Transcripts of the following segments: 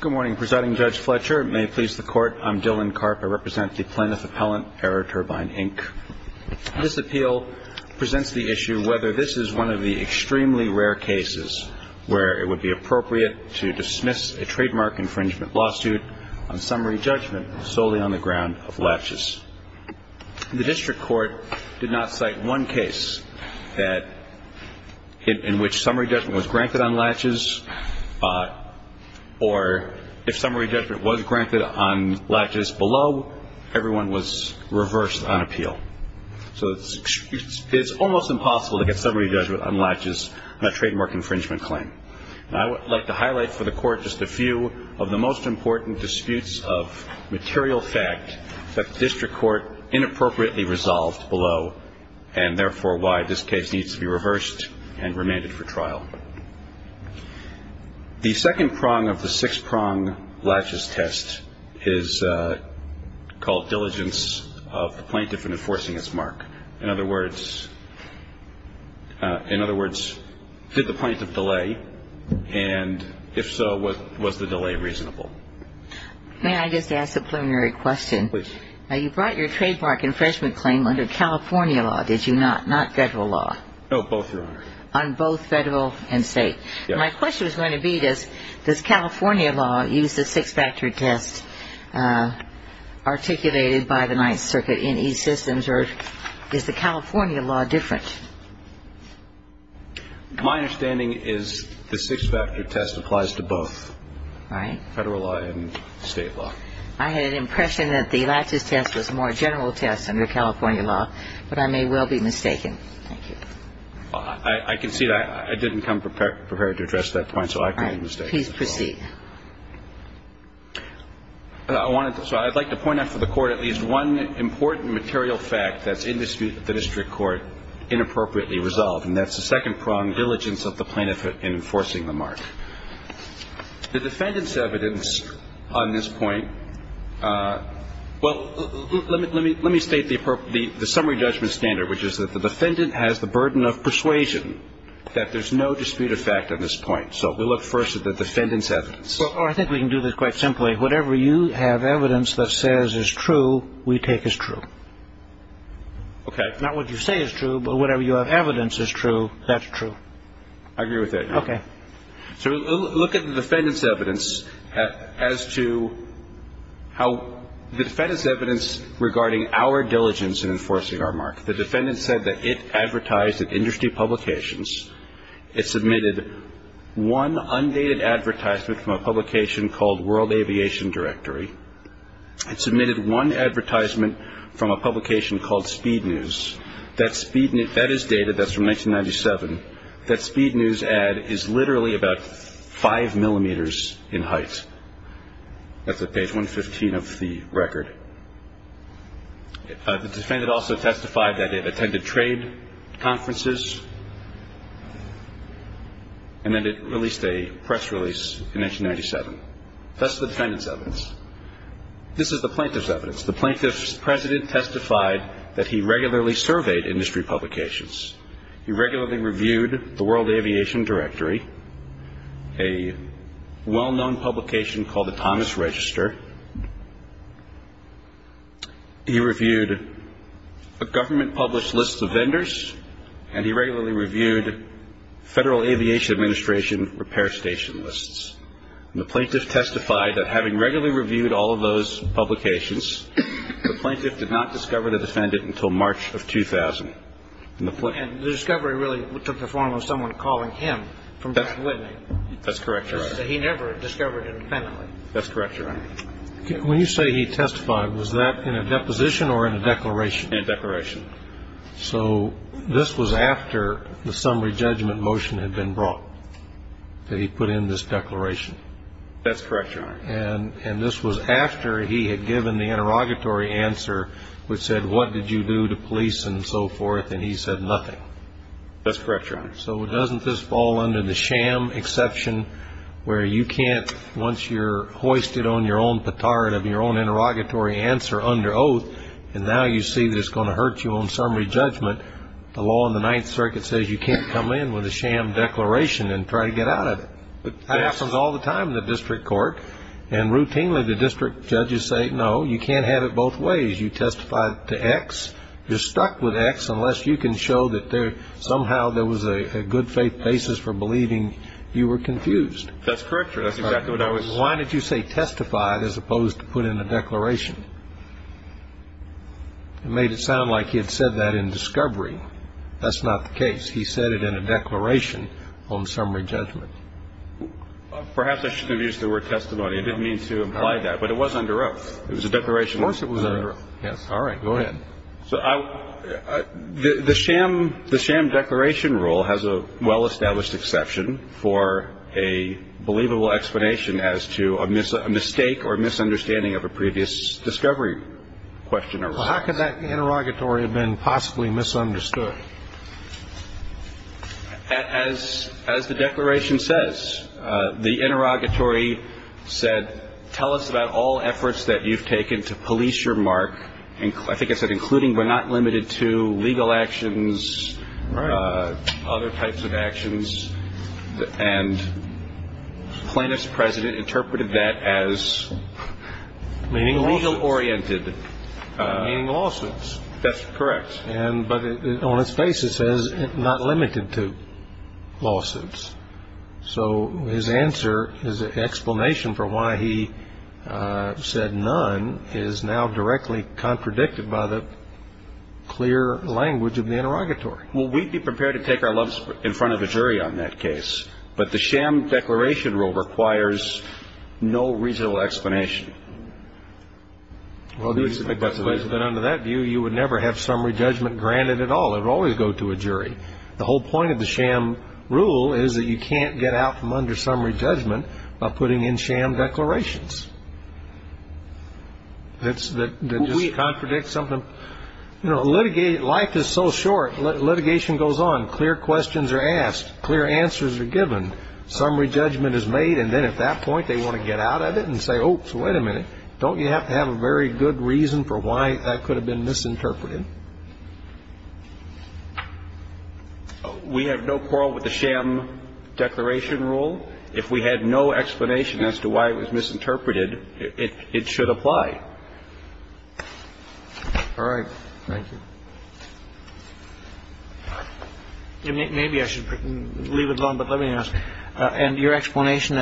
Good morning, Presiding Judge Fletcher. May it please the Court, I'm Dillon Karp. I represent the Plaintiff Appellant, Aeroturbine, Inc. This appeal presents the issue whether this is one of the extremely rare cases where it would be appropriate to dismiss a trademark infringement lawsuit on summary judgment solely on the ground of latches. The District Court did not cite one case in which summary judgment was granted on latches, or if summary judgment was granted on latches below, everyone was reversed on appeal. So it's almost impossible to get summary judgment on latches on a trademark infringement claim. And I would like to highlight for the Court just a few of the most important disputes of material fact that the District Court inappropriately resolved below, and therefore why this case needs to be reversed and remanded for trial. The second prong of the six-prong latches test is called diligence of the plaintiff in enforcing his mark. In other words, did the plaintiff delay? And if so, was the delay reasonable? May I just ask a preliminary question? Please. Now, you brought your trademark infringement claim under California law, did you not? Not Federal law? No, both, Your Honor. On both Federal and State? Yes. My question was going to be this. Does California law use the six-factor test articulated by the Ninth Circuit in these systems, or is the California law different? My understanding is the six-factor test applies to both. Right. The California law applies to both Federal law and State law. I had an impression that the latches test was a more general test under California law, but I may well be mistaken. Thank you. I can see that. I didn't come prepared to address that point, so I could be mistaken. All right. Please proceed. I wanted to so I'd like to point out for the Court at least one important material fact that's in dispute with the District Court inappropriately resolved, and that's the second-pronged diligence of the plaintiff in enforcing the mark. The defendant's evidence on this point, well, let me state the summary judgment standard, which is that the defendant has the burden of persuasion that there's no dispute of fact on this point. So we'll look first at the defendant's evidence. Well, I think we can do this quite simply. Whatever you have evidence that says is true, we take as true. Okay. Not what you say is true, but whatever you have evidence is true, that's true. I agree with that. Okay. So we'll look at the defendant's evidence as to how the defendant's evidence regarding our diligence in enforcing our mark. The defendant said that it advertised at industry publications. It submitted one undated advertisement from a publication called World Aviation Directory. It submitted one advertisement from a publication called Speed News. That is dated. That's from 1997. That Speed News ad is literally about five millimeters in height. That's at page 115 of the record. The defendant also testified that it attended trade conferences and that it released a press release in 1997. That's the defendant's evidence. This is the plaintiff's evidence. The plaintiff's president testified that he regularly surveyed industry publications. He regularly reviewed the World Aviation Directory, a well-known publication called the Thomas Register. He reviewed a government-published list of vendors, and he regularly reviewed Federal Aviation Administration repair station lists. The plaintiff testified that having regularly reviewed all of those publications, the plaintiff did not discover the defendant until March of 2000. And the discovery really took the form of someone calling him from Bethlehem. That's correct, Your Honor. He never discovered it independently. That's correct, Your Honor. When you say he testified, was that in a deposition or in a declaration? In a declaration. So this was after the summary judgment motion had been brought, that he put in this declaration. That's correct, Your Honor. And this was after he had given the interrogatory answer, which said, what did you do to police and so forth, and he said nothing. That's correct, Your Honor. So doesn't this fall under the sham exception where you can't, once you're hoisted on your own petard of your own interrogatory answer under oath, and now you see that it's going to hurt you on summary judgment, the law in the Ninth Circuit says you can't come in with a sham declaration and try to get out of it. That happens all the time in the district court. And routinely the district judges say, no, you can't have it both ways. You testify to X, you're stuck with X, unless you can show that somehow there was a good faith basis for believing you were confused. That's correct, Your Honor. Why did you say testify as opposed to put in a declaration? It made it sound like he had said that in discovery. That's not the case. He said it in a declaration on summary judgment. Perhaps I should have used the word testimony. I didn't mean to imply that. But it was under oath. It was a declaration. Of course it was under oath. Yes. All right. Go ahead. The sham declaration rule has a well-established exception for a believable explanation as to a mistake or misunderstanding of a previous discovery question or response. How could that interrogatory have been possibly misunderstood? As the declaration says, the interrogatory said, tell us about all efforts that you've taken to police your mark. I think it said including but not limited to legal actions, other types of actions. And plaintiff's president interpreted that as legal-oriented. Meaning lawsuits. That's correct. But on its basis it says not limited to lawsuits. So his answer, his explanation for why he said none, is now directly contradicted by the clear language of the interrogatory. Well, we'd be prepared to take our love in front of a jury on that case. But the sham declaration rule requires no reasonable explanation. Well, that's the way it's been under that view. You would never have summary judgment granted at all. It would always go to a jury. The whole point of the sham rule is that you can't get out from under summary judgment by putting in sham declarations. That just contradicts something. You know, life is so short litigation goes on. Clear questions are asked. Clear answers are given. Summary judgment is made. And then at that point they want to get out of it and say, oh, so wait a minute. Well, we have no quarrel with the sham declaration rule. If we had no explanation as to why it was misinterpreted, it should apply. All right. Thank you. Maybe I should leave it alone. But let me ask. If you have a question,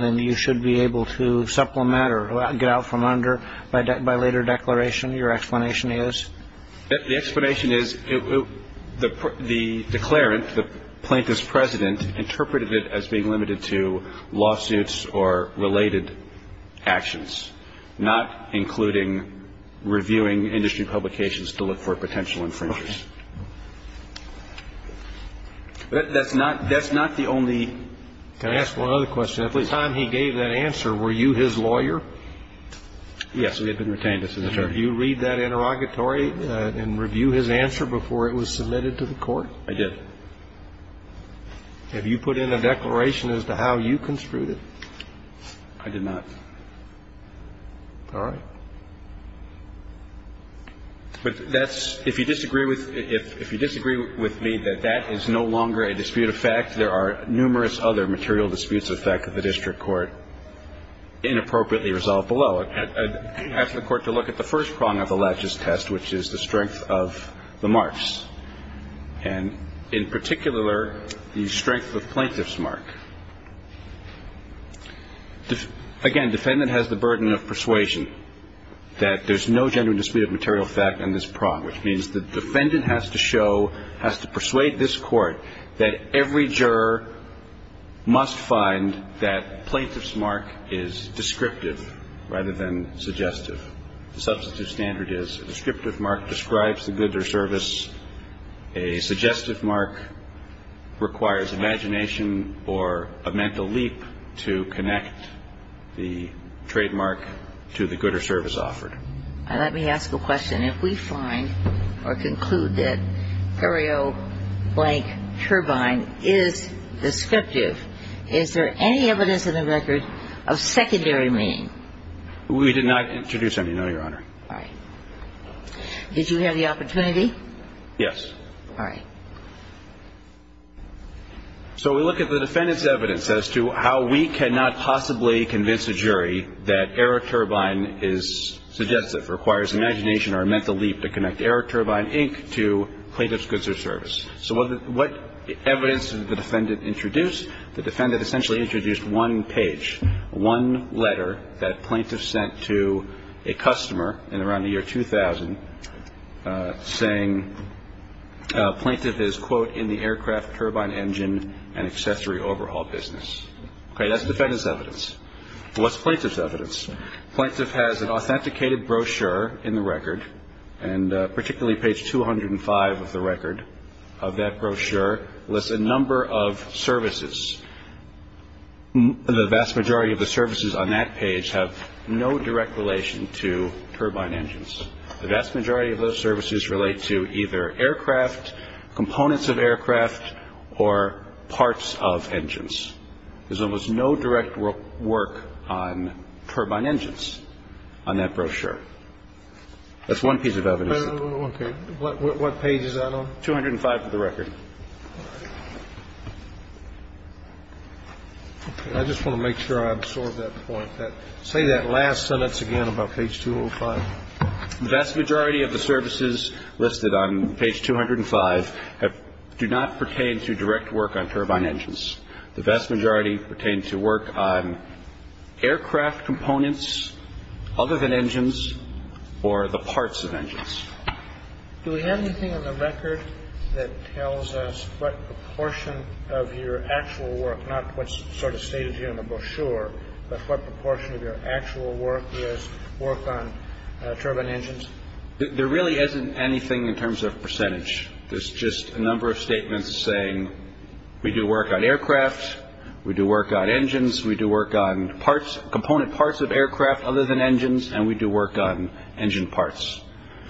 then you should be able to supplement or get out from under by later declaration. Your explanation is? The explanation is the declarant, the plaintiff's president, interpreted it as being limited to lawsuits or related actions, not including reviewing industry publications to look for potential infringers. That's not the only. Can I ask one other question? At the time he gave that answer, were you his lawyer? Yes, we had been retained as an attorney. Did you read that interrogatory and review his answer before it was submitted to the court? I did. Have you put in a declaration as to how you construed it? I did not. All right. But that's ñ if you disagree with me that that is no longer a dispute of fact, there are numerous other material disputes of fact of the district court inappropriately resolved below. I'd ask the Court to look at the first prong of the Latches test, which is the strength of the marks, and in particular, the strength of plaintiff's mark. Again, defendant has the burden of persuasion. That there's no genuine dispute of material fact on this prong, which means the defendant has to show, has to persuade this court, that every juror must find that plaintiff's mark is descriptive rather than suggestive. The substantive standard is a descriptive mark describes the good or service. A suggestive mark requires imagination or a mental leap to connect the trademark to the good or service offered. Now, let me ask a question. If we find or conclude that curio blank turbine is descriptive, is there any evidence in the record of secondary meaning? We did not introduce any, no, Your Honor. All right. Did you have the opportunity? Yes. All right. So we look at the defendant's evidence as to how we cannot possibly convince a jury that error turbine is suggestive, requires imagination or a mental leap to connect error turbine, Inc., to plaintiff's goods or service. So what evidence did the defendant introduce? The defendant essentially introduced one page, one letter that plaintiff sent to a customer in around the year 2000 saying plaintiff is, quote, in the aircraft turbine engine and accessory overhaul business. Okay. That's defendant's evidence. What's plaintiff's evidence? Plaintiff has an authenticated brochure in the record, and particularly page 205 of the record of that brochure lists a number of services. The vast majority of the services on that page have no direct relation to turbine engines. The vast majority of those services relate to either aircraft, components of aircraft, or parts of engines. There's almost no direct work on turbine engines on that brochure. That's one piece of evidence. Okay. What page is that on? 205 of the record. I just want to make sure I absorb that point. Say that last sentence again about page 205. The vast majority of the services listed on page 205 do not pertain to direct work on turbine engines. The vast majority pertain to work on aircraft components other than engines or the parts of engines. Do we have anything on the record that tells us what proportion of your actual work, not what's sort of stated here in the brochure, but what proportion of your actual work is work on turbine engines? There really isn't anything in terms of percentage. There's just a number of statements saying we do work on aircraft, we do work on engines, we do work on parts, component parts of aircraft other than engines, and we do work on engine parts.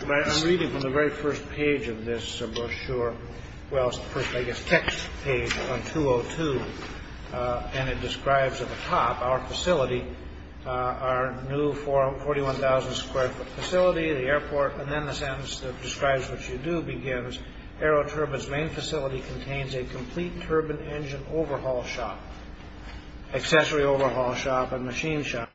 I'm reading from the very first page of this brochure. Well, I guess text page 202. And it describes at the top our facility, our new 41,000 square foot facility, the airport. And then the sentence that describes what you do begins, AeroTurbine's main facility contains a complete turbine engine overhaul shop, accessory overhaul shop, and machine shop.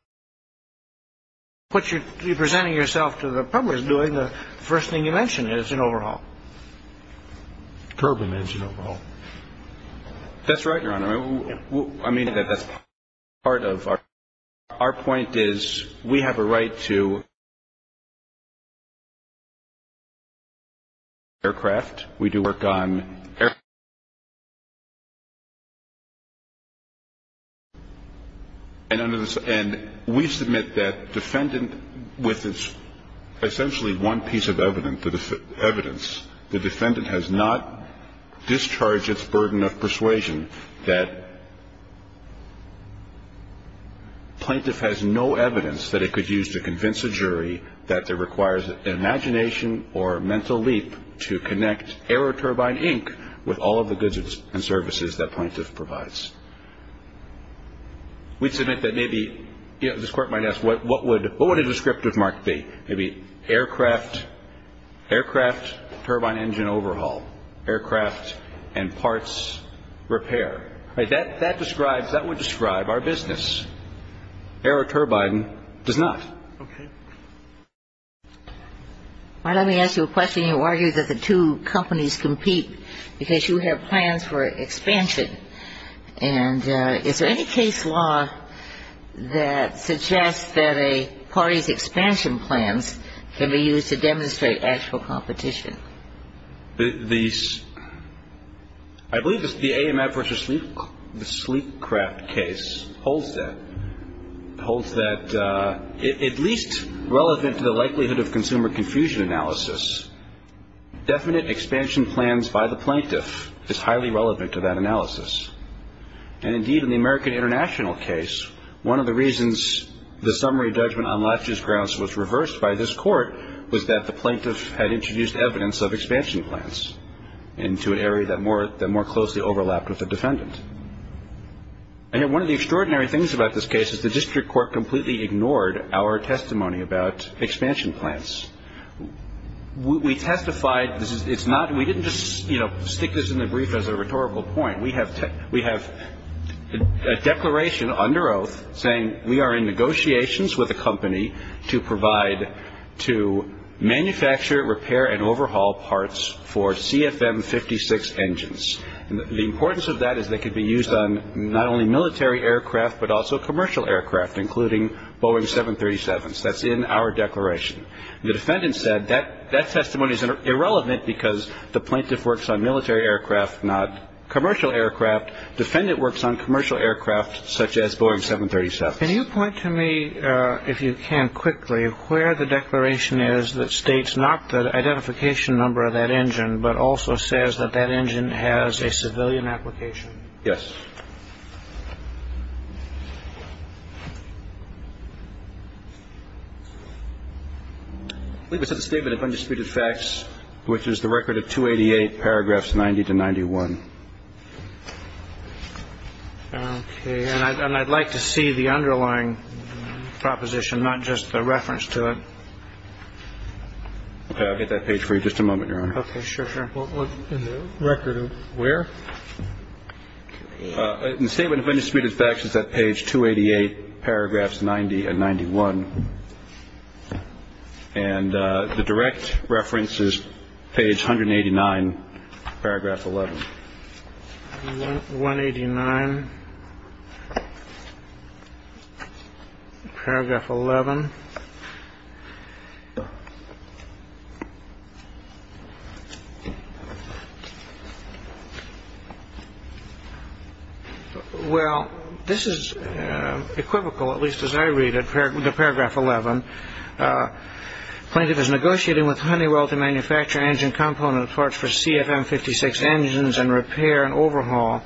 What you're presenting yourself to the public as doing, the first thing you mention is an overhaul. Turbine engine overhaul. That's right, Your Honor. I mean, that's part of our point is we have a right to aircraft. We do work on. And we submit that defendant with essentially one piece of evidence, the defendant has not discharged its burden of persuasion that plaintiff has no evidence that it could use to convince a jury that it requires imagination or mental leap to connect AeroTurbine, Inc. with all of the goods and services that plaintiff provides. We submit that maybe this court might ask what would a descriptive mark be? Maybe aircraft turbine engine overhaul, aircraft and parts repair. That would describe our business. AeroTurbine does not. Okay. Let me ask you a question. You argue that the two companies compete because you have plans for expansion. And is there any case law that suggests that a party's expansion plans can be used to demonstrate actual competition? I believe the AMF v. Sleepcraft case holds that. It holds that at least relevant to the likelihood of consumer confusion analysis, definite expansion plans by the plaintiff is highly relevant to that analysis. And, indeed, in the American International case, one of the reasons the summary judgment on last year's grounds was reversed by this court was that the plaintiff had introduced evidence of expansion plans into an area that more closely overlapped with the defendant. One of the extraordinary things about this case is the district court completely ignored our testimony about expansion plans. We testified. We didn't just stick this in the brief as a rhetorical point. We have a declaration under oath saying we are in negotiations with a company to provide, to manufacture, repair, and overhaul parts for CFM-56 engines. The importance of that is they could be used on not only military aircraft but also commercial aircraft, including Boeing 737s. That's in our declaration. The defendant said that that testimony is irrelevant because the plaintiff works on military aircraft, not commercial aircraft. The defendant works on commercial aircraft such as Boeing 737s. Can you point to me, if you can quickly, where the declaration is that states not the identification number of that engine but also says that that engine has a civilian application? Yes. I believe it's in the Statement of Undisputed Facts, which is the record of 288, paragraphs 90 to 91. Okay. And I'd like to see the underlying proposition, not just the reference to it. I'll get that page for you. Just a moment, Your Honor. Okay. Sure, sure. In the record of where? In the Statement of Undisputed Facts, it's at page 288, paragraphs 90 and 91. And the direct reference is page 189, paragraph 11. 189, paragraph 11. Well, this is equivocal, at least as I read it, the paragraph 11. Plaintiff is negotiating with Honeywell to manufacture engine component parts for CFM-56 engines and repair and overhaul.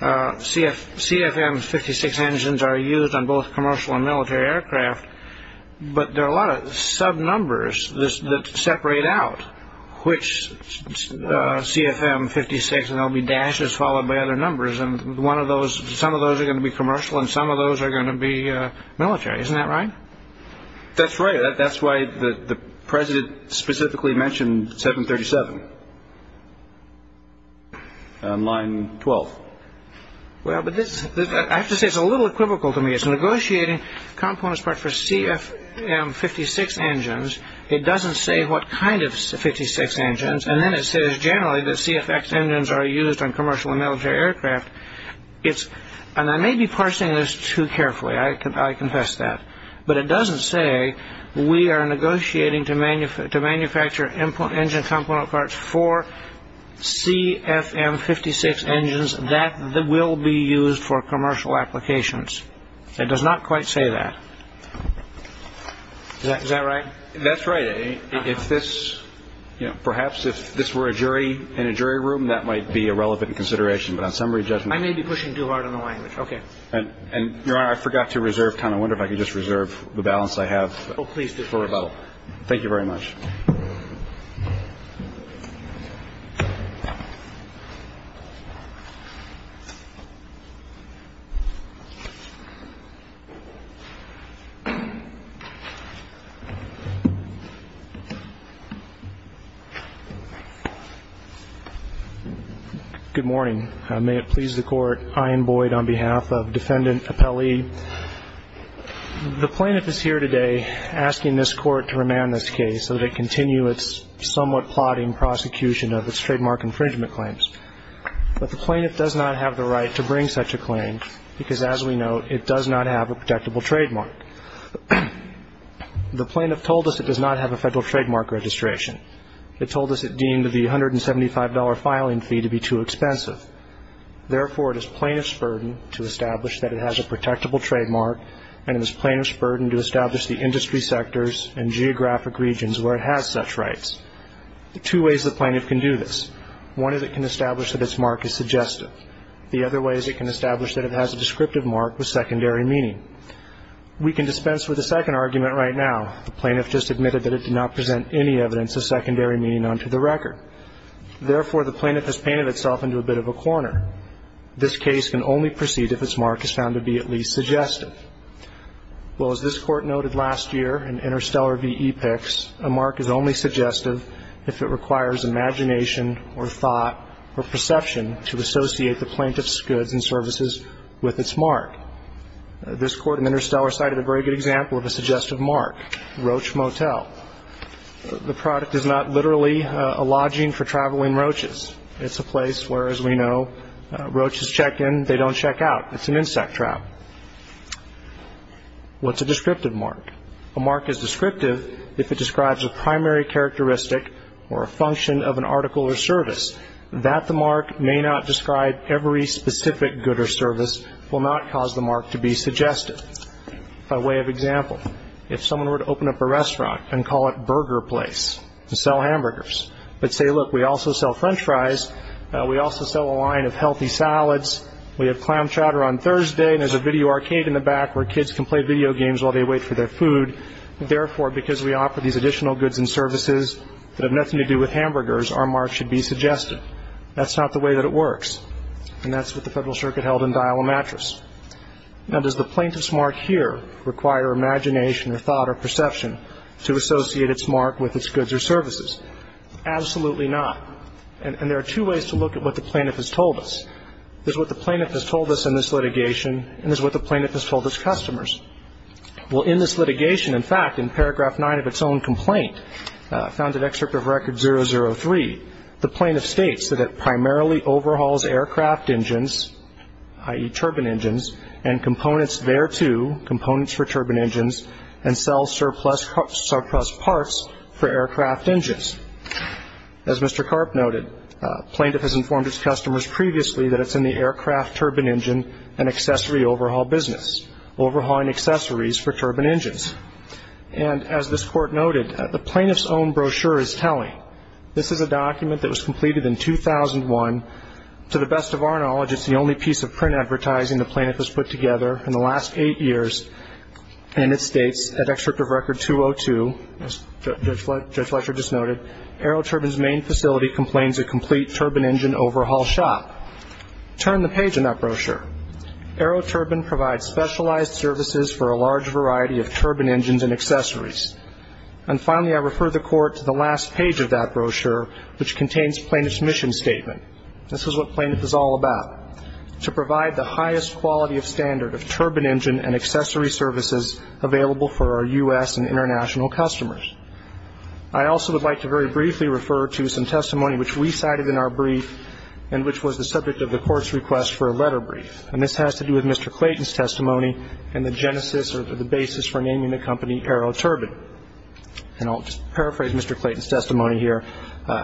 CFM-56 engines are used on both commercial and military aircraft, but there are a lot of sub-numbers that separate out which CFM-56, and there will be dashes followed by other numbers, and some of those are going to be commercial and some of those are going to be military. Isn't that right? That's right. That's why the president specifically mentioned 737 on line 12. Well, but I have to say it's a little equivocal to me. It's negotiating component parts for CFM-56 engines. It doesn't say what kind of 56 engines, and then it says generally that CFX engines are used on commercial and military aircraft. And I may be parsing this too carefully. I confess that. But it doesn't say we are negotiating to manufacture engine component parts for CFM-56 engines that will be used for commercial applications. It does not quite say that. Is that right? That's right. If this, you know, perhaps if this were a jury in a jury room, that might be irrelevant in consideration, but on summary judgment. I may be pushing too hard on the language. Okay. And, Your Honor, I forgot to reserve time. I wonder if I could just reserve the balance I have. Oh, please do. For rebuttal. Thank you very much. Good morning. May it please the Court, I am Boyd on behalf of Defendant Appellee. The plaintiff is here today asking this Court to remand this case so that it continue its somewhat plodding prosecution of its trademark infringement claims. But the plaintiff does not have the right to bring such a claim because, as we know, it does not have a protectable trademark. The plaintiff told us it does not have a federal trademark registration. It told us it deemed the $175 filing fee to be too expensive. Therefore, it is plaintiff's burden to establish that it has a protectable trademark and it is plaintiff's burden to establish the industry sectors and geographic regions where it has such rights. There are two ways the plaintiff can do this. One is it can establish that its mark is suggestive. The other way is it can establish that it has a descriptive mark with secondary meaning. We can dispense with the second argument right now. The plaintiff just admitted that it did not present any evidence of secondary meaning onto the record. Therefore, the plaintiff has painted itself into a bit of a corner. This case can only proceed if its mark is found to be at least suggestive. Well, as this Court noted last year in Interstellar v. Epix, a mark is only suggestive if it requires imagination or thought or perception to associate the plaintiff's goods and services with its mark. This Court in Interstellar cited a very good example of a suggestive mark, Roach Motel. The product is not literally a lodging for traveling roaches. It's a place where, as we know, roaches check in, they don't check out. It's an insect trap. What's a descriptive mark? A mark is descriptive if it describes a primary characteristic or a function of an article or service. That the mark may not describe every specific good or service will not cause the mark to be suggestive. By way of example, if someone were to open up a restaurant and call it Burger Place to sell hamburgers, but say, look, we also sell French fries, we also sell a line of healthy salads, we have clam chowder on Thursday, and there's a video arcade in the back where kids can play video games while they wait for their food. Therefore, because we offer these additional goods and services that have nothing to do with hamburgers, our mark should be suggestive. That's not the way that it works. And that's what the Federal Circuit held in Dial a Mattress. Now, does the plaintiff's mark here require imagination or thought or perception to associate its mark with its goods or services? Absolutely not. And there are two ways to look at what the plaintiff has told us. There's what the plaintiff has told us in this litigation, and there's what the plaintiff has told its customers. Well, in this litigation, in fact, in Paragraph 9 of its own complaint, found in Excerpt of Record 003, the plaintiff states that it primarily overhauls aircraft engines, i.e., turbine engines, and components thereto, components for turbine engines, and sells surplus parts for aircraft engines. As Mr. Karp noted, plaintiff has informed its customers previously that it's in the aircraft turbine engine and accessory overhaul business, overhauling accessories for turbine engines. And as this Court noted, the plaintiff's own brochure is telling. This is a document that was completed in 2001. To the best of our knowledge, it's the only piece of print advertising the plaintiff has put together in the last eight years, and it states, at Excerpt of Record 202, as Judge Fletcher just noted, AeroTurbine's main facility complains a complete turbine engine overhaul shop. Turn the page in that brochure. AeroTurbine provides specialized services for a large variety of turbine engines and accessories. And finally, I refer the Court to the last page of that brochure, which contains plaintiff's mission statement. This is what plaintiff is all about, to provide the highest quality of standard of turbine engine and accessory services available for our U.S. and international customers. I also would like to very briefly refer to some testimony which we cited in our brief and which was the subject of the Court's request for a letter brief. And this has to do with Mr. Clayton's testimony and the genesis or the basis for naming the company AeroTurbine. And I'll just paraphrase Mr. Clayton's testimony here.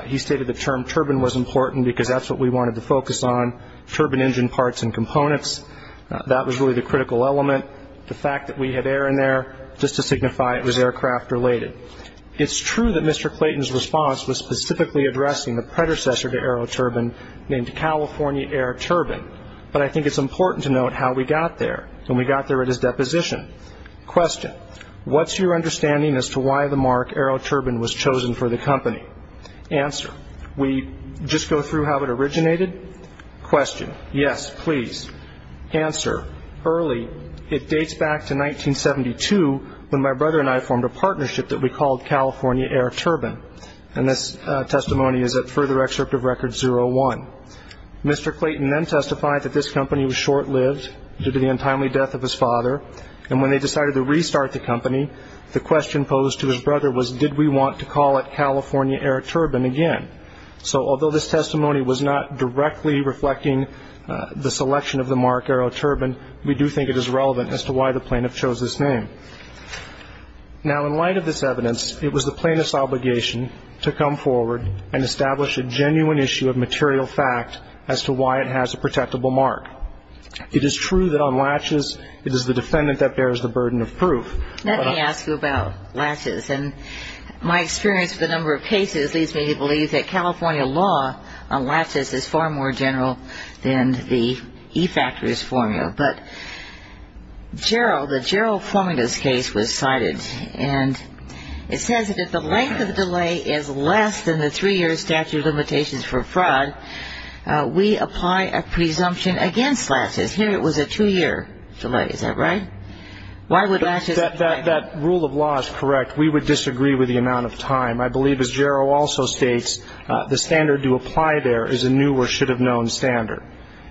He stated the term turbine was important because that's what we wanted to focus on, turbine engine parts and components. That was really the critical element. The fact that we had air in there, just to signify it was aircraft-related. It's true that Mr. Clayton's response was specifically addressing the predecessor to AeroTurbine, named California Air Turbine, but I think it's important to note how we got there when we got there at his deposition. Question. What's your understanding as to why the mark AeroTurbine was chosen for the company? Answer. We just go through how it originated? Question. Yes, please. Answer. It dates back to 1972 when my brother and I formed a partnership that we called California AeroTurbine, and this testimony is at further excerpt of Record 01. Mr. Clayton then testified that this company was short-lived due to the untimely death of his father, and when they decided to restart the company, the question posed to his brother was, did we want to call it California AeroTurbine again? So although this testimony was not directly reflecting the selection of the mark AeroTurbine, we do think it is relevant as to why the plaintiff chose this name. Now, in light of this evidence, it was the plaintiff's obligation to come forward and establish a genuine issue of material fact as to why it has a protectable mark. It is true that on latches it is the defendant that bears the burden of proof. Let me ask you about latches, and my experience with a number of cases leads me to believe that California law on latches is far more general than the e-factors formula. But the Gerald Fomitas case was cited, and it says that if the length of delay is less than the three-year statute of limitations for fraud, we apply a presumption against latches. Here it was a two-year delay. Is that right? Why would latches apply? That rule of law is correct. We would disagree with the amount of time. I believe, as Gerald also states, the standard to apply there is a new or should-have-known standard.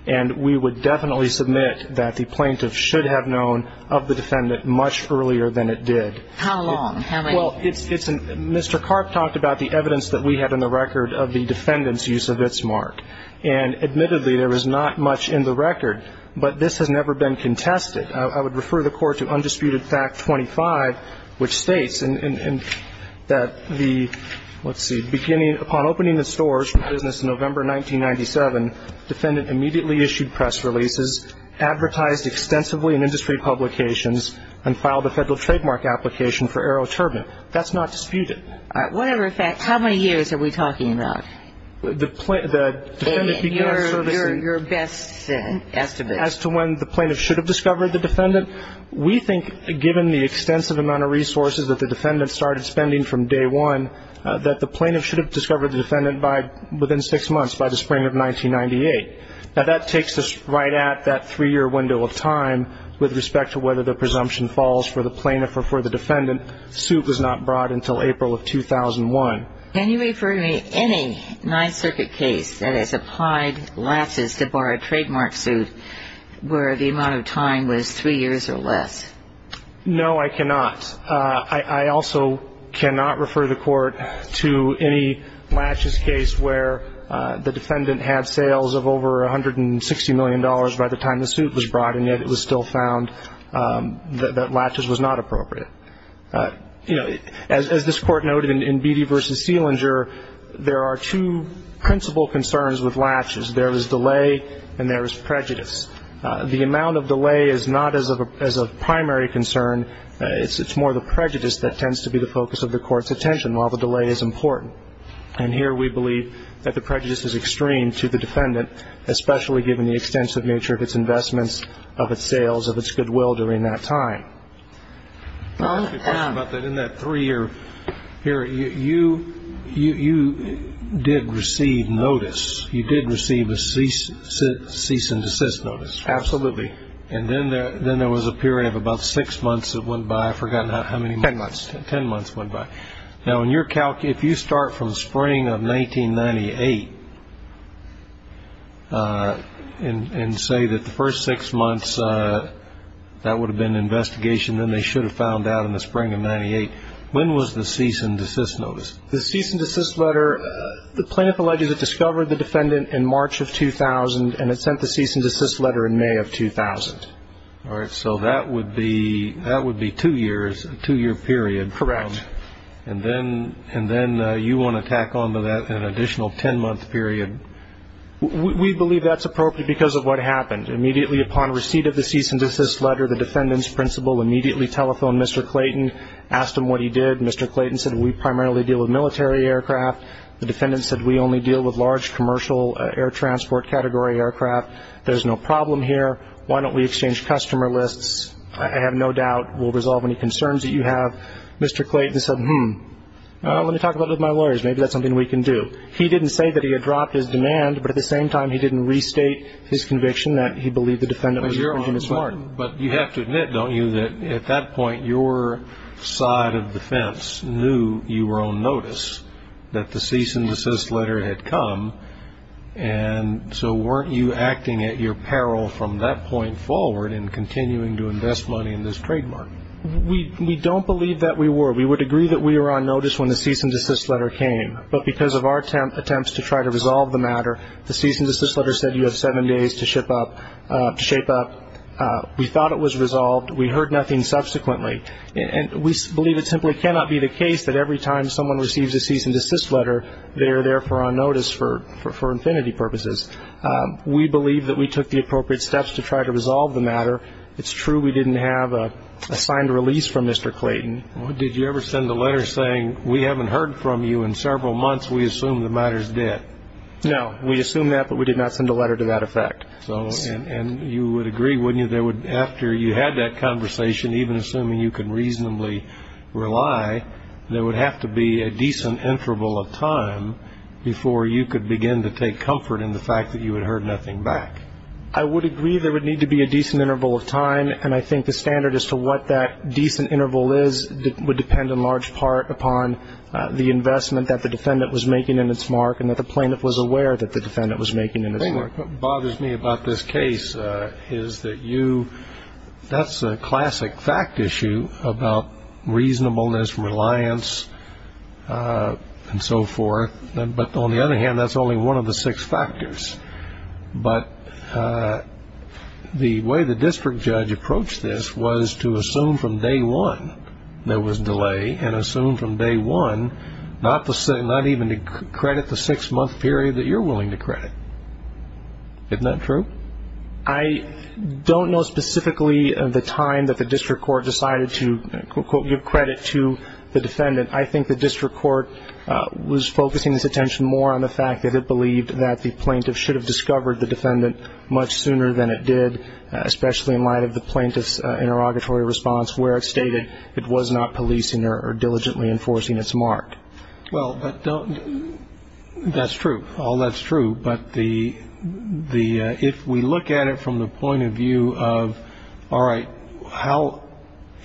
And we would definitely submit that the plaintiff should have known of the defendant much earlier than it did. How long? Well, Mr. Karp talked about the evidence that we had in the record of the defendant's use of its mark. And admittedly, there is not much in the record, but this has never been contested. And I would refer the Court to Undisputed Fact 25, which states that the, let's see, beginning upon opening the stores for business in November 1997, defendant immediately issued press releases, advertised extensively in industry publications, and filed a Federal trademark application for AeroTurbine. That's not disputed. All right. Whatever the fact, how many years are we talking about? The defendant began servicing as to when the plaintiff should have discovered the defendant. We think, given the extensive amount of resources that the defendant started spending from day one, that the plaintiff should have discovered the defendant within six months, by the spring of 1998. Now, that takes us right at that three-year window of time with respect to whether the presumption falls for the plaintiff or for the defendant. The suit was not brought until April of 2001. Can you refer to me any Ninth Circuit case that has applied lasses to borrow a suit for at least three years or less? No, I cannot. I also cannot refer the Court to any latches case where the defendant had sales of over $160 million by the time the suit was brought, and yet it was still found that latches was not appropriate. You know, as this Court noted in Beattie v. Sealinger, there are two principal concerns with latches. There is delay and there is prejudice. The amount of delay is not as a primary concern. It's more the prejudice that tends to be the focus of the Court's attention, while the delay is important. And here we believe that the prejudice is extreme to the defendant, especially given the extensive nature of its investments, of its sales, of its goodwill during that time. I want to talk about that in that three-year period. You did receive notice. You did receive a cease and desist notice. Absolutely. And then there was a period of about six months that went by. I've forgotten how many months. Ten months. Ten months went by. Now, if you start from spring of 1998 and say that the first six months, that would have been an investigation, then they should have found out in the spring of 1998. When was the cease and desist notice? The cease and desist letter, the plaintiff alleges it discovered the defendant in May of 2000. All right. So that would be two years, a two-year period. Correct. And then you want to tack on to that an additional ten-month period. We believe that's appropriate because of what happened. Immediately upon receipt of the cease and desist letter, the defendant's principal immediately telephoned Mr. Clayton, asked him what he did. Mr. Clayton said, we primarily deal with military aircraft. The defendant said, we only deal with large commercial air transport category aircraft. There's no problem here. Why don't we exchange customer lists? I have no doubt we'll resolve any concerns that you have. Mr. Clayton said, hmm, let me talk about it with my lawyers. Maybe that's something we can do. He didn't say that he had dropped his demand, but at the same time, he didn't restate his conviction that he believed the defendant was infringing his right. But you have to admit, don't you, that at that point, your side of defense knew you were on notice that the cease and desist letter had come, and so weren't you acting at your peril from that point forward in continuing to invest money in this trademark? We don't believe that we were. We would agree that we were on notice when the cease and desist letter came, but because of our attempts to try to resolve the matter, the cease and desist letter said you have seven days to shape up. We thought it was resolved. We heard nothing subsequently. And we believe it simply cannot be the case that every time someone receives a We believe that we took the appropriate steps to try to resolve the matter. It's true we didn't have a signed release from Mr. Clayton. Did you ever send a letter saying we haven't heard from you in several months? We assume the matter is dead. No. We assume that, but we did not send a letter to that effect. And you would agree, wouldn't you, that after you had that conversation, even assuming you could reasonably rely, there would have to be a decent interval of time before you could begin to take comfort in the fact that you had heard nothing back? I would agree there would need to be a decent interval of time. And I think the standard as to what that decent interval is would depend in large part upon the investment that the defendant was making in its mark and that the plaintiff was aware that the defendant was making in its mark. The thing that bothers me about this case is that you that's a classic fact issue about reasonableness, reliance, and so forth. But on the other hand, that's only one of the six factors. But the way the district judge approached this was to assume from day one there was delay and assume from day one not even to credit the six-month period that you're willing to credit. Isn't that true? I don't know specifically the time that the district court decided to give credit to the defendant. I think the district court was focusing its attention more on the fact that it believed that the plaintiff should have discovered the defendant much sooner than it did, especially in light of the plaintiff's interrogatory response where it stated it was not policing or diligently enforcing its mark. Well, that's true. All that's true. But if we look at it from the point of view of, all right,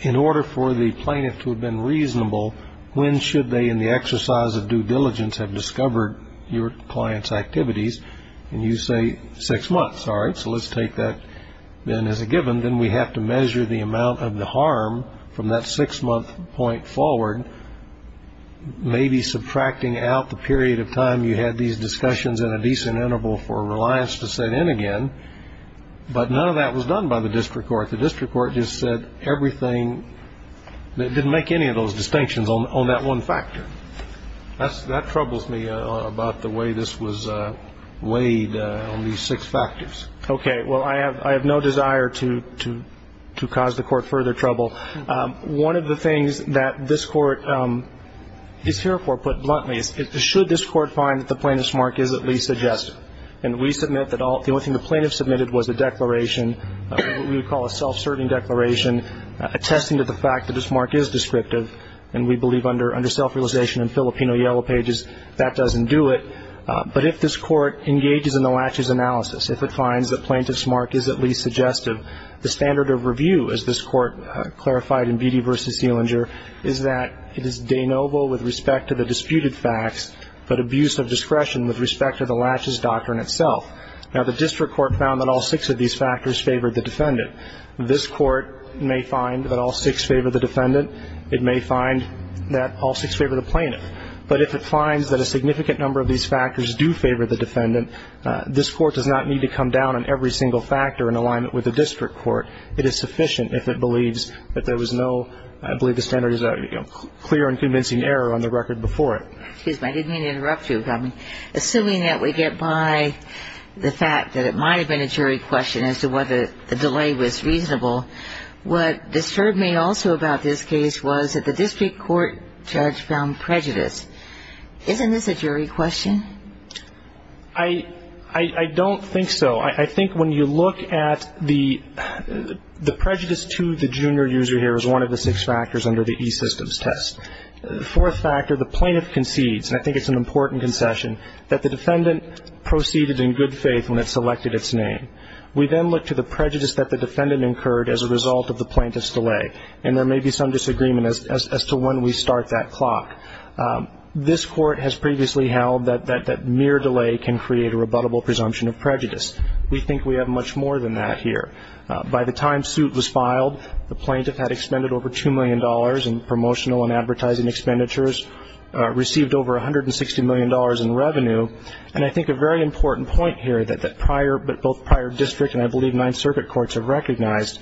in order for the plaintiff to have been reasonable, when should they in the exercise of due diligence have discovered your client's activities? And you say six months. All right, so let's take that then as a given. Then we have to measure the amount of the harm from that six-month point forward, maybe subtracting out the period of time you had these discussions in a decent interval for reliance to set in again. But none of that was done by the district court. The district court just said everything, didn't make any of those distinctions on that one factor. That troubles me about the way this was weighed on these six factors. Okay. Well, I have no desire to cause the court further trouble. One of the things that this court is here for, put bluntly, is should this court find that the plaintiff's mark is at least suggestive? And we submit that the only thing the plaintiff submitted was a declaration, what we would call a self-serving declaration, attesting to the fact that this mark is descriptive. And we believe under self-realization and Filipino Yellow Pages that doesn't do it. But if this court engages in the latches analysis, if it finds the plaintiff's mark is at least suggestive, the standard of review, as this court clarified in Beattie v. Selinger, is that it is denoble with respect to the disputed facts, but abuse of discretion with respect to the latches doctrine itself. Now, the district court found that all six of these factors favored the defendant. This court may find that all six favor the defendant. It may find that all six favor the plaintiff. But if it finds that a significant number of these factors do favor the defendant, this court does not need to come down on every single factor in alignment with the district court. It is sufficient if it believes that there was no, I believe the standard is a clear and convincing error on the record before it. Excuse me. I didn't mean to interrupt you. Assuming that we get by the fact that it might have been a jury question as to whether the delay was reasonable, what disturbed me also about this case was that the district court judge found prejudice. Isn't this a jury question? I don't think so. No, I think when you look at the prejudice to the junior user here is one of the six factors under the E-Systems test. The fourth factor, the plaintiff concedes, and I think it's an important concession, that the defendant proceeded in good faith when it selected its name. We then look to the prejudice that the defendant incurred as a result of the plaintiff's delay, and there may be some disagreement as to when we start that clock. This court has previously held that mere delay can create a rebuttable presumption of prejudice. We think we have much more than that here. By the time suit was filed, the plaintiff had expended over $2 million in promotional and advertising expenditures, received over $160 million in revenue, and I think a very important point here that both prior district and I believe Ninth Circuit courts have recognized,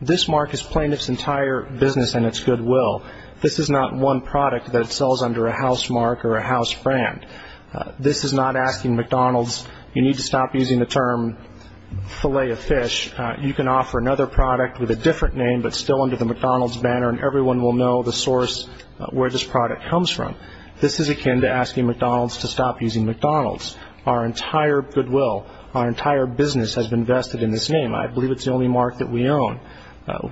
this mark is plaintiff's entire business and its goodwill. This is not one product that sells under a house mark or a house brand. This is not asking McDonald's, you need to stop using the term Filet-O-Fish. You can offer another product with a different name, but still under the McDonald's banner, and everyone will know the source where this product comes from. This is akin to asking McDonald's to stop using McDonald's. Our entire goodwill, our entire business has been vested in this name. I believe it's the only mark that we own.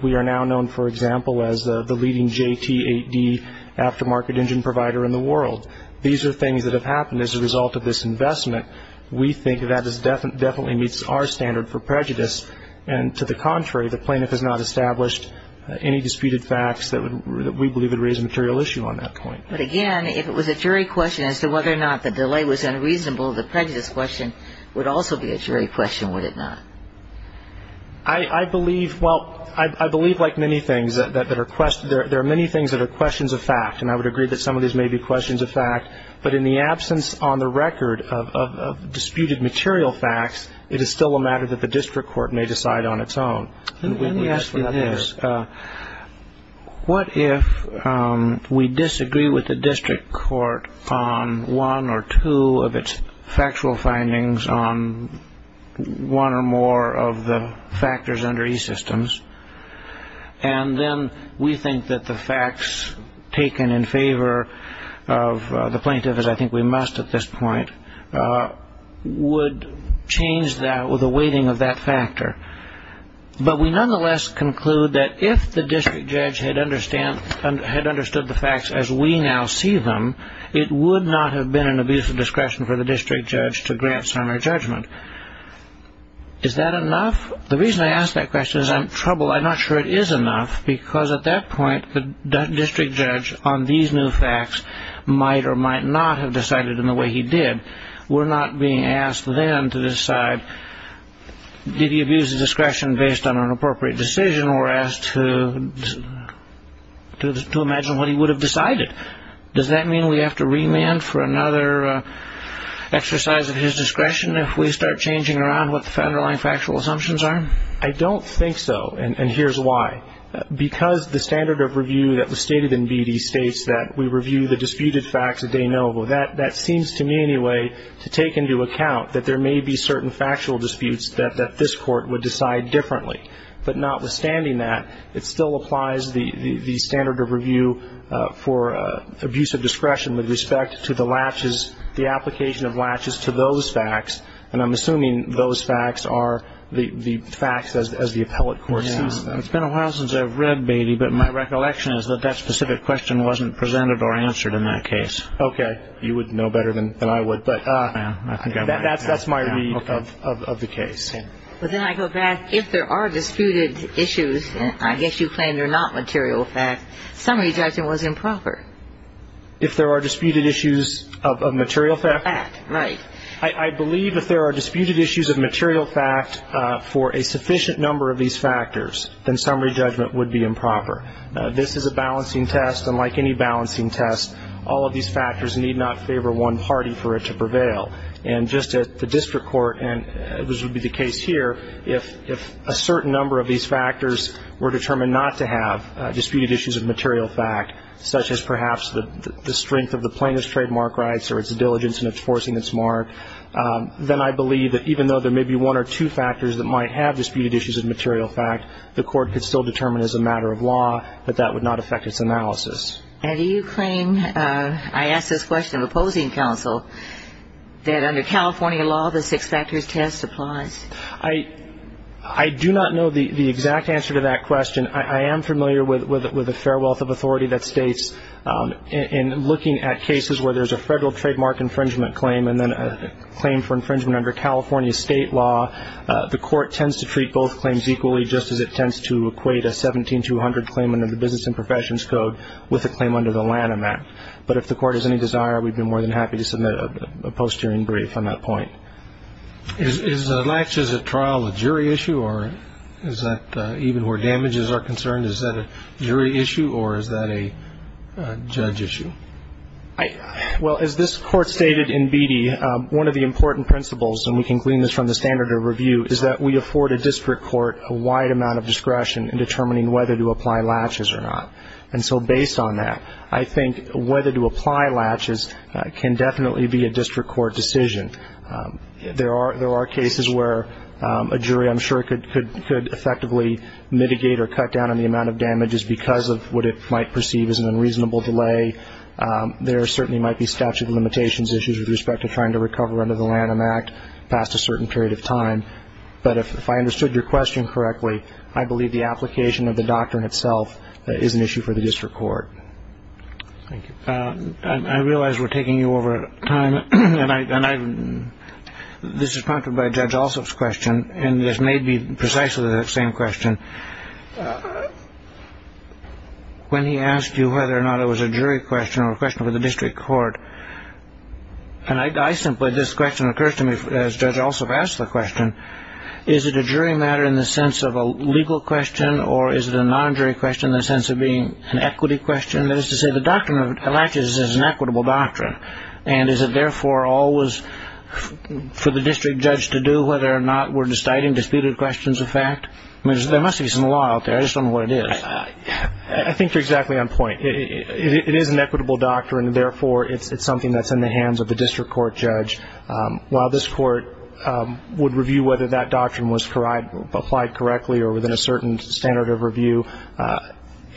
We are now known, for example, as the leading JT8D aftermarket engine provider in the world. These are things that have happened as a result of this investment. We think that this definitely meets our standard for prejudice, and to the contrary, the plaintiff has not established any disputed facts that we believe would raise a material issue on that point. But again, if it was a jury question as to whether or not the delay was unreasonable, the prejudice question would also be a jury question, would it not? I believe, well, I believe like many things, there are many things that are questions of fact, and I would agree that some of these may be questions of fact, but in the absence on the record of disputed material facts, it is still a matter that the district court may decide on its own. Let me ask you this. What if we disagree with the district court on one or two of its factual findings, on one or more of the factors under e-Systems, and then we think that the facts taken in favor of the plaintiff, as I think we must at this point, would change the weighting of that factor, but we nonetheless conclude that if the district judge had understood the facts as we now see them, it would not have been an abuse of discretion for the district judge to grant summary judgment. Is that enough? The reason I ask that question is I'm troubled. I'm not sure it is enough, because at that point, the district judge on these new facts might or might not have decided in the way he did. We're not being asked then to decide, did he abuse of discretion based on an appropriate decision, or asked to imagine what he would have decided. Does that mean we have to remand for another exercise of his discretion if we start changing around what the underlying factual assumptions are? I don't think so, and here's why. Because the standard of review that was stated in BD states that we review the disputed facts a de novo. That seems to me anyway to take into account that there may be certain factual disputes that this court would decide differently. But notwithstanding that, it still applies the standard of review for abuse of discretion with respect to the latches, the application of latches to those facts, and I'm assuming those facts are the facts as the appellate court sees them. It's been a while since I've read BD, but my recollection is that that specific question wasn't presented or answered in that case. Okay. You would know better than I would, but that's my read of the case. But then I go back. If there are disputed issues, and I guess you claim they're not material facts, summary judgment was improper. If there are disputed issues of material fact? Fact, right. I believe if there are disputed issues of material fact for a sufficient number of these factors, then summary judgment would be improper. This is a balancing test, and like any balancing test, all of these factors need not favor one party for it to prevail. And just at the district court, and this would be the case here, if a certain number of these factors were determined not to have disputed issues of material fact, such as perhaps the strength of the plaintiff's trademark rights or its diligence in enforcing its mark, then I believe that even though there may be one or two factors that might have disputed issues of material fact, the court could still determine as a matter of law that that would not affect its analysis. And do you claim, I ask this question of opposing counsel, that under California law the six factors test applies? I do not know the exact answer to that question. I am familiar with a fair wealth of authority that states in looking at cases where there's a federal trademark infringement claim and then a claim for infringement under California state law, the court tends to treat both claims equally, just as it tends to equate a 17200 claim under the Business and Professions Code with a claim under the Lanham Act. But if the court has any desire, we'd be more than happy to submit a post-hearing brief on that point. Is a latch as a trial a jury issue or is that even where damages are concerned, is that a jury issue or is that a judge issue? Well, as this Court stated in Beattie, one of the important principles, and we can glean this from the standard of review, is that we afford a district court a wide amount of discretion in determining whether to apply latches or not. And so based on that, I think whether to apply latches can definitely be a district court decision. There are cases where a jury, I'm sure, could effectively mitigate or cut down on the amount of damages because of what it might perceive as an unreasonable delay. There certainly might be statute of limitations issues with respect to trying to recover under the Lanham Act past a certain period of time. But if I understood your question correctly, I believe the application of the doctrine itself is an issue for the district court. Thank you. I realize we're taking you over time, and this is prompted by Judge Alsop's question, and this may be precisely the same question. When he asked you whether or not it was a jury question or a question for the district court, and I simply, this question occurs to me as Judge Alsop asked the question, is it a jury matter in the sense of a legal question or is it a non-jury question in the sense of being an equity question? And that is to say the doctrine of latches is an equitable doctrine, and is it therefore always for the district judge to do whether or not we're deciding disputed questions of fact? I mean, there must be some law out there. I just don't know what it is. I think you're exactly on point. It is an equitable doctrine, and therefore it's something that's in the hands of the district court judge. While this court would review whether that doctrine was applied correctly or within a certain standard of review,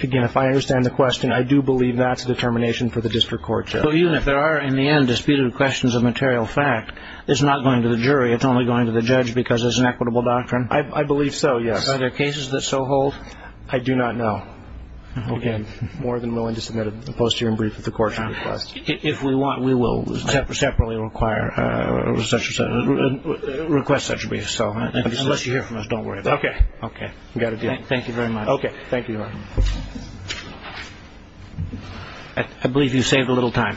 again, if I understand the question, I do believe that's a determination for the district court judge. So even if there are, in the end, disputed questions of material fact, it's not going to the jury. It's only going to the judge because it's an equitable doctrine? I believe so, yes. Are there cases that so hold? I do not know. Again, more than willing to submit a post-hearing brief if the court requests. If we want, we will separately require or request such briefs. Unless you hear from us, don't worry about it. Okay. Thank you very much. Okay. Thank you, Your Honor. I believe you saved a little time.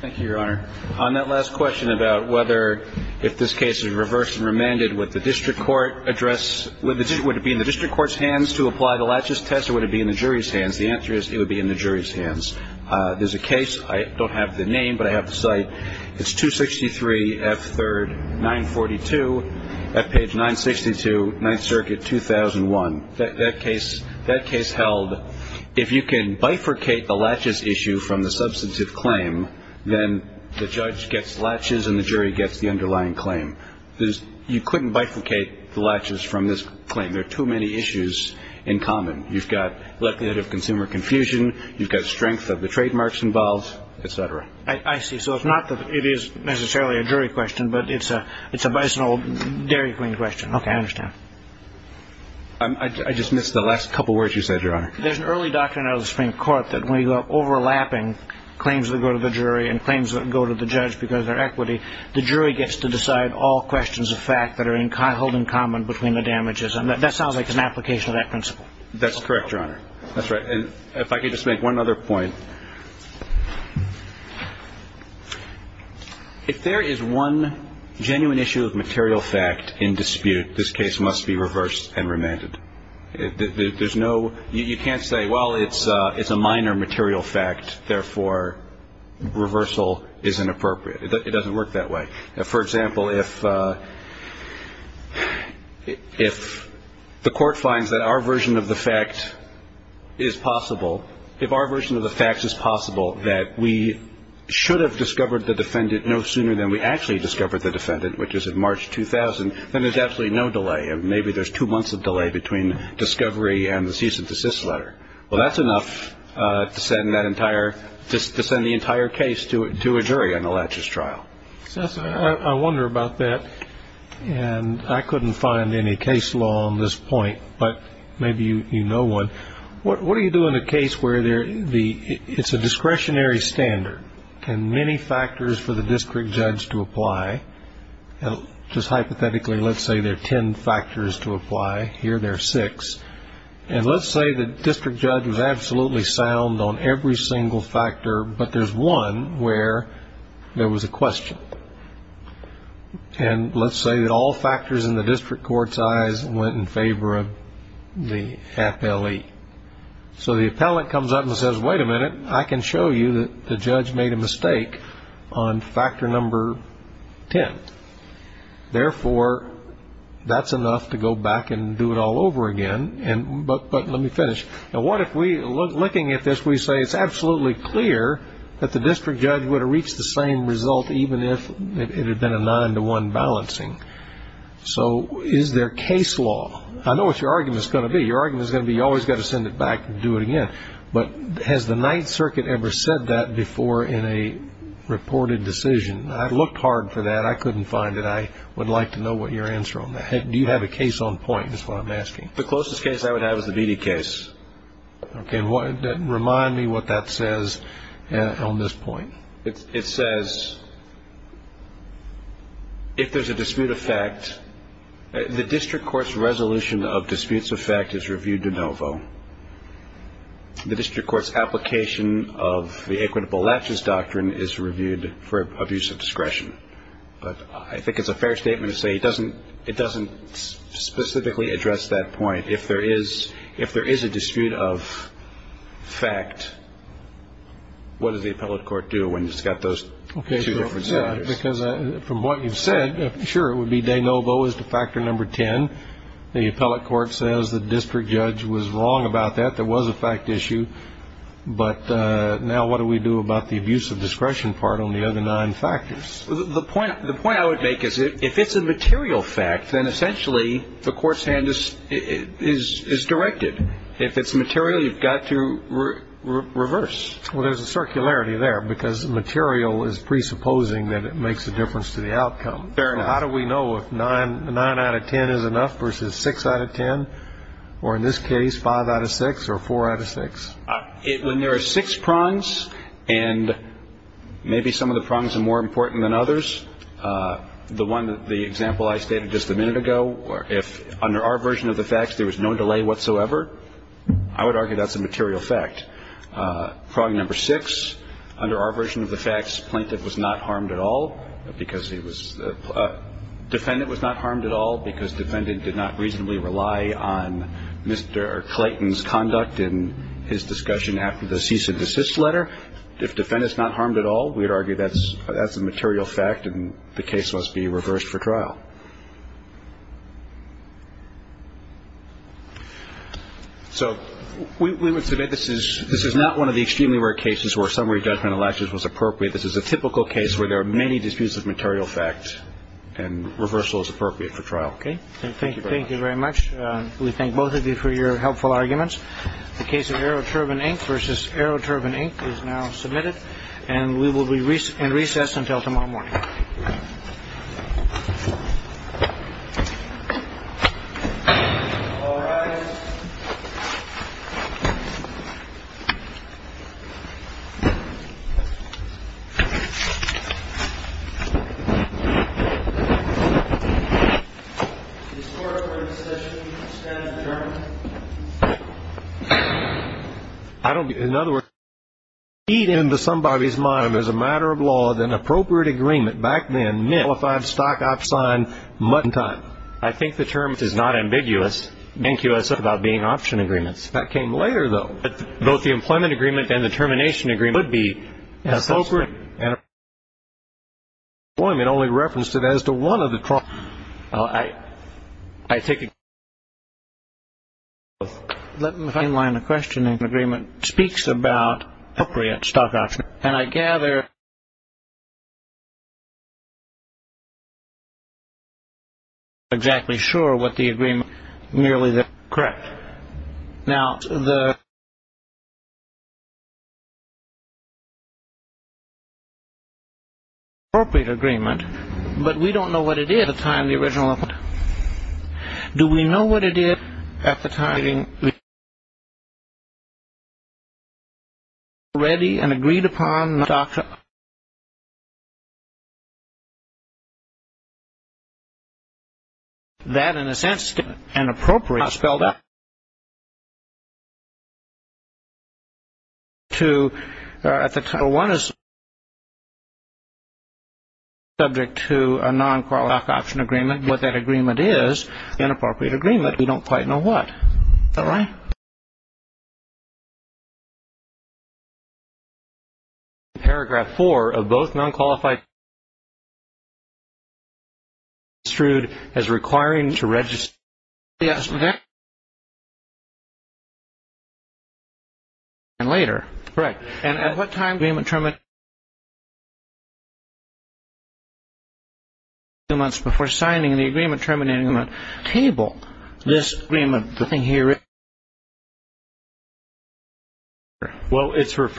Thank you, Your Honor. On that last question about whether if this case is reversed and remanded, would the district court address, would it be in the district court's hands to apply the laches test, or would it be in the jury's hands? The answer is it would be in the jury's hands. There's a case. I don't have the name, but I have the site. It's 263F3rd942 at page 962, Ninth Circuit, 2001. That case held, if you can bifurcate the laches issue from the substantive claim, then the judge gets laches and the jury gets the underlying claim. You couldn't bifurcate the laches from this claim. There are too many issues in common. You've got likelihood of consumer confusion. You've got strength of the trademarks involved, et cetera. I see. So it's not that it is necessarily a jury question, but it's a bison or dairy queen question. Okay, I understand. I just missed the last couple words you said, Your Honor. There's an early doctrine out of the Supreme Court that when you have overlapping claims that go to the jury and claims that go to the judge because they're equity, the jury gets to decide all questions of fact that are held in common between the damages, and that sounds like an application of that principle. That's correct, Your Honor. That's right, and if I could just make one other point. If there is one genuine issue of material fact in dispute, this case must be reversed and remanded. There's no you can't say, well, it's a minor material fact, therefore, reversal is inappropriate. It doesn't work that way. For example, if the court finds that our version of the fact is possible, if our version of the facts is possible that we should have discovered the defendant no sooner than we actually discovered the defendant, which is in March 2000, then there's absolutely no delay. Maybe there's two months of delay between discovery and the cease and desist letter. Well, that's enough to send the entire case to a jury on a laches trial. I wonder about that, and I couldn't find any case law on this point, but maybe you know one. What do you do in a case where it's a discretionary standard and many factors for the district judge to apply? Just hypothetically, let's say there are ten factors to apply. Here there are six. And let's say the district judge was absolutely sound on every single factor, but there's one where there was a question. And let's say that all factors in the district court's eyes went in favor of the appellee. So the appellant comes up and says, wait a minute. I can show you that the judge made a mistake on factor number ten. Therefore, that's enough to go back and do it all over again. But let me finish. Now, looking at this, we say it's absolutely clear that the district judge would have reached the same result, even if it had been a nine-to-one balancing. So is there case law? I know what your argument is going to be. Your argument is going to be you've always got to send it back and do it again. But has the Ninth Circuit ever said that before in a reported decision? I looked hard for that. I couldn't find it. I would like to know what your answer on that. Do you have a case on point is what I'm asking. The closest case I would have is the Beattie case. Okay. Remind me what that says on this point. It says if there's a dispute of fact, the district court's resolution of disputes of fact is reviewed de novo. The district court's application of the equitable latches doctrine is reviewed for abuse of discretion. But I think it's a fair statement to say it doesn't specifically address that point. If there is a dispute of fact, what does the appellate court do when it's got those two different scenarios? Because from what you've said, sure, it would be de novo is the factor number 10. The appellate court says the district judge was wrong about that. There was a fact issue. But now what do we do about the abuse of discretion part on the other nine factors? The point I would make is if it's a material fact, then essentially the court's hand is directed. If it's material, you've got to reverse. Well, there's a circularity there because material is presupposing that it makes a difference to the outcome. How do we know if nine out of 10 is enough versus six out of 10 or, in this case, five out of six or four out of six? When there are six prongs and maybe some of the prongs are more important than others, the one that the example I stated just a minute ago, if under our version of the facts there was no delay whatsoever, I would argue that's a material fact. Prong number six, under our version of the facts, plaintiff was not harmed at all because he was ‑‑ defendant was not harmed at all because defendant did not reasonably rely on Mr. Clayton's conduct in his discussion after the cease and desist letter. If defendant's not harmed at all, we'd argue that's a material fact and the case must be reversed for trial. So we would say that this is not one of the extremely rare cases where summary judgment elections was appropriate. This is a typical case where there are many disputes of material fact and reversal is appropriate for trial. Okay. Thank you. Thank you very much. We thank both of you for your helpful arguments. The case of Aeroturbine Inc. versus Aeroturbine Inc. is now submitted, and we will be in recess until tomorrow morning. All rise. This court for this session extends adjournment. I don't get it. In other words, if you read into somebody's mind, as a matter of law, that an appropriate agreement back then nullified stock option sign mutton time. I think the term is not ambiguous. It's ambiguous about being option agreements. That came later, though. But both the employment agreement and the termination agreement would be appropriate. And the termination agreement only referenced it as to one of the trials. Well, I take it. Let me find a line of questioning. The agreement speaks about appropriate stock option. And I gather you're not exactly sure what the agreement is. Nearly there. Correct. Now, the appropriate agreement, but we don't know what it is at the time of the original agreement. Do we know what it is at the time of the agreement? Do we know what it is at the time of the agreement? The agreement was ready and agreed upon stock. That, in a sense, is an appropriate, spelled out. At the time, one is subject to a non-correlation stock option agreement. What that agreement is, an appropriate agreement. We don't quite know what. Is that right? Paragraph four of both non-qualified... ...as requiring to register... Yes, okay. ...and later. Correct. And at what time... ...two months before signing the agreement terminating the table. This agreement... Well, it's referred...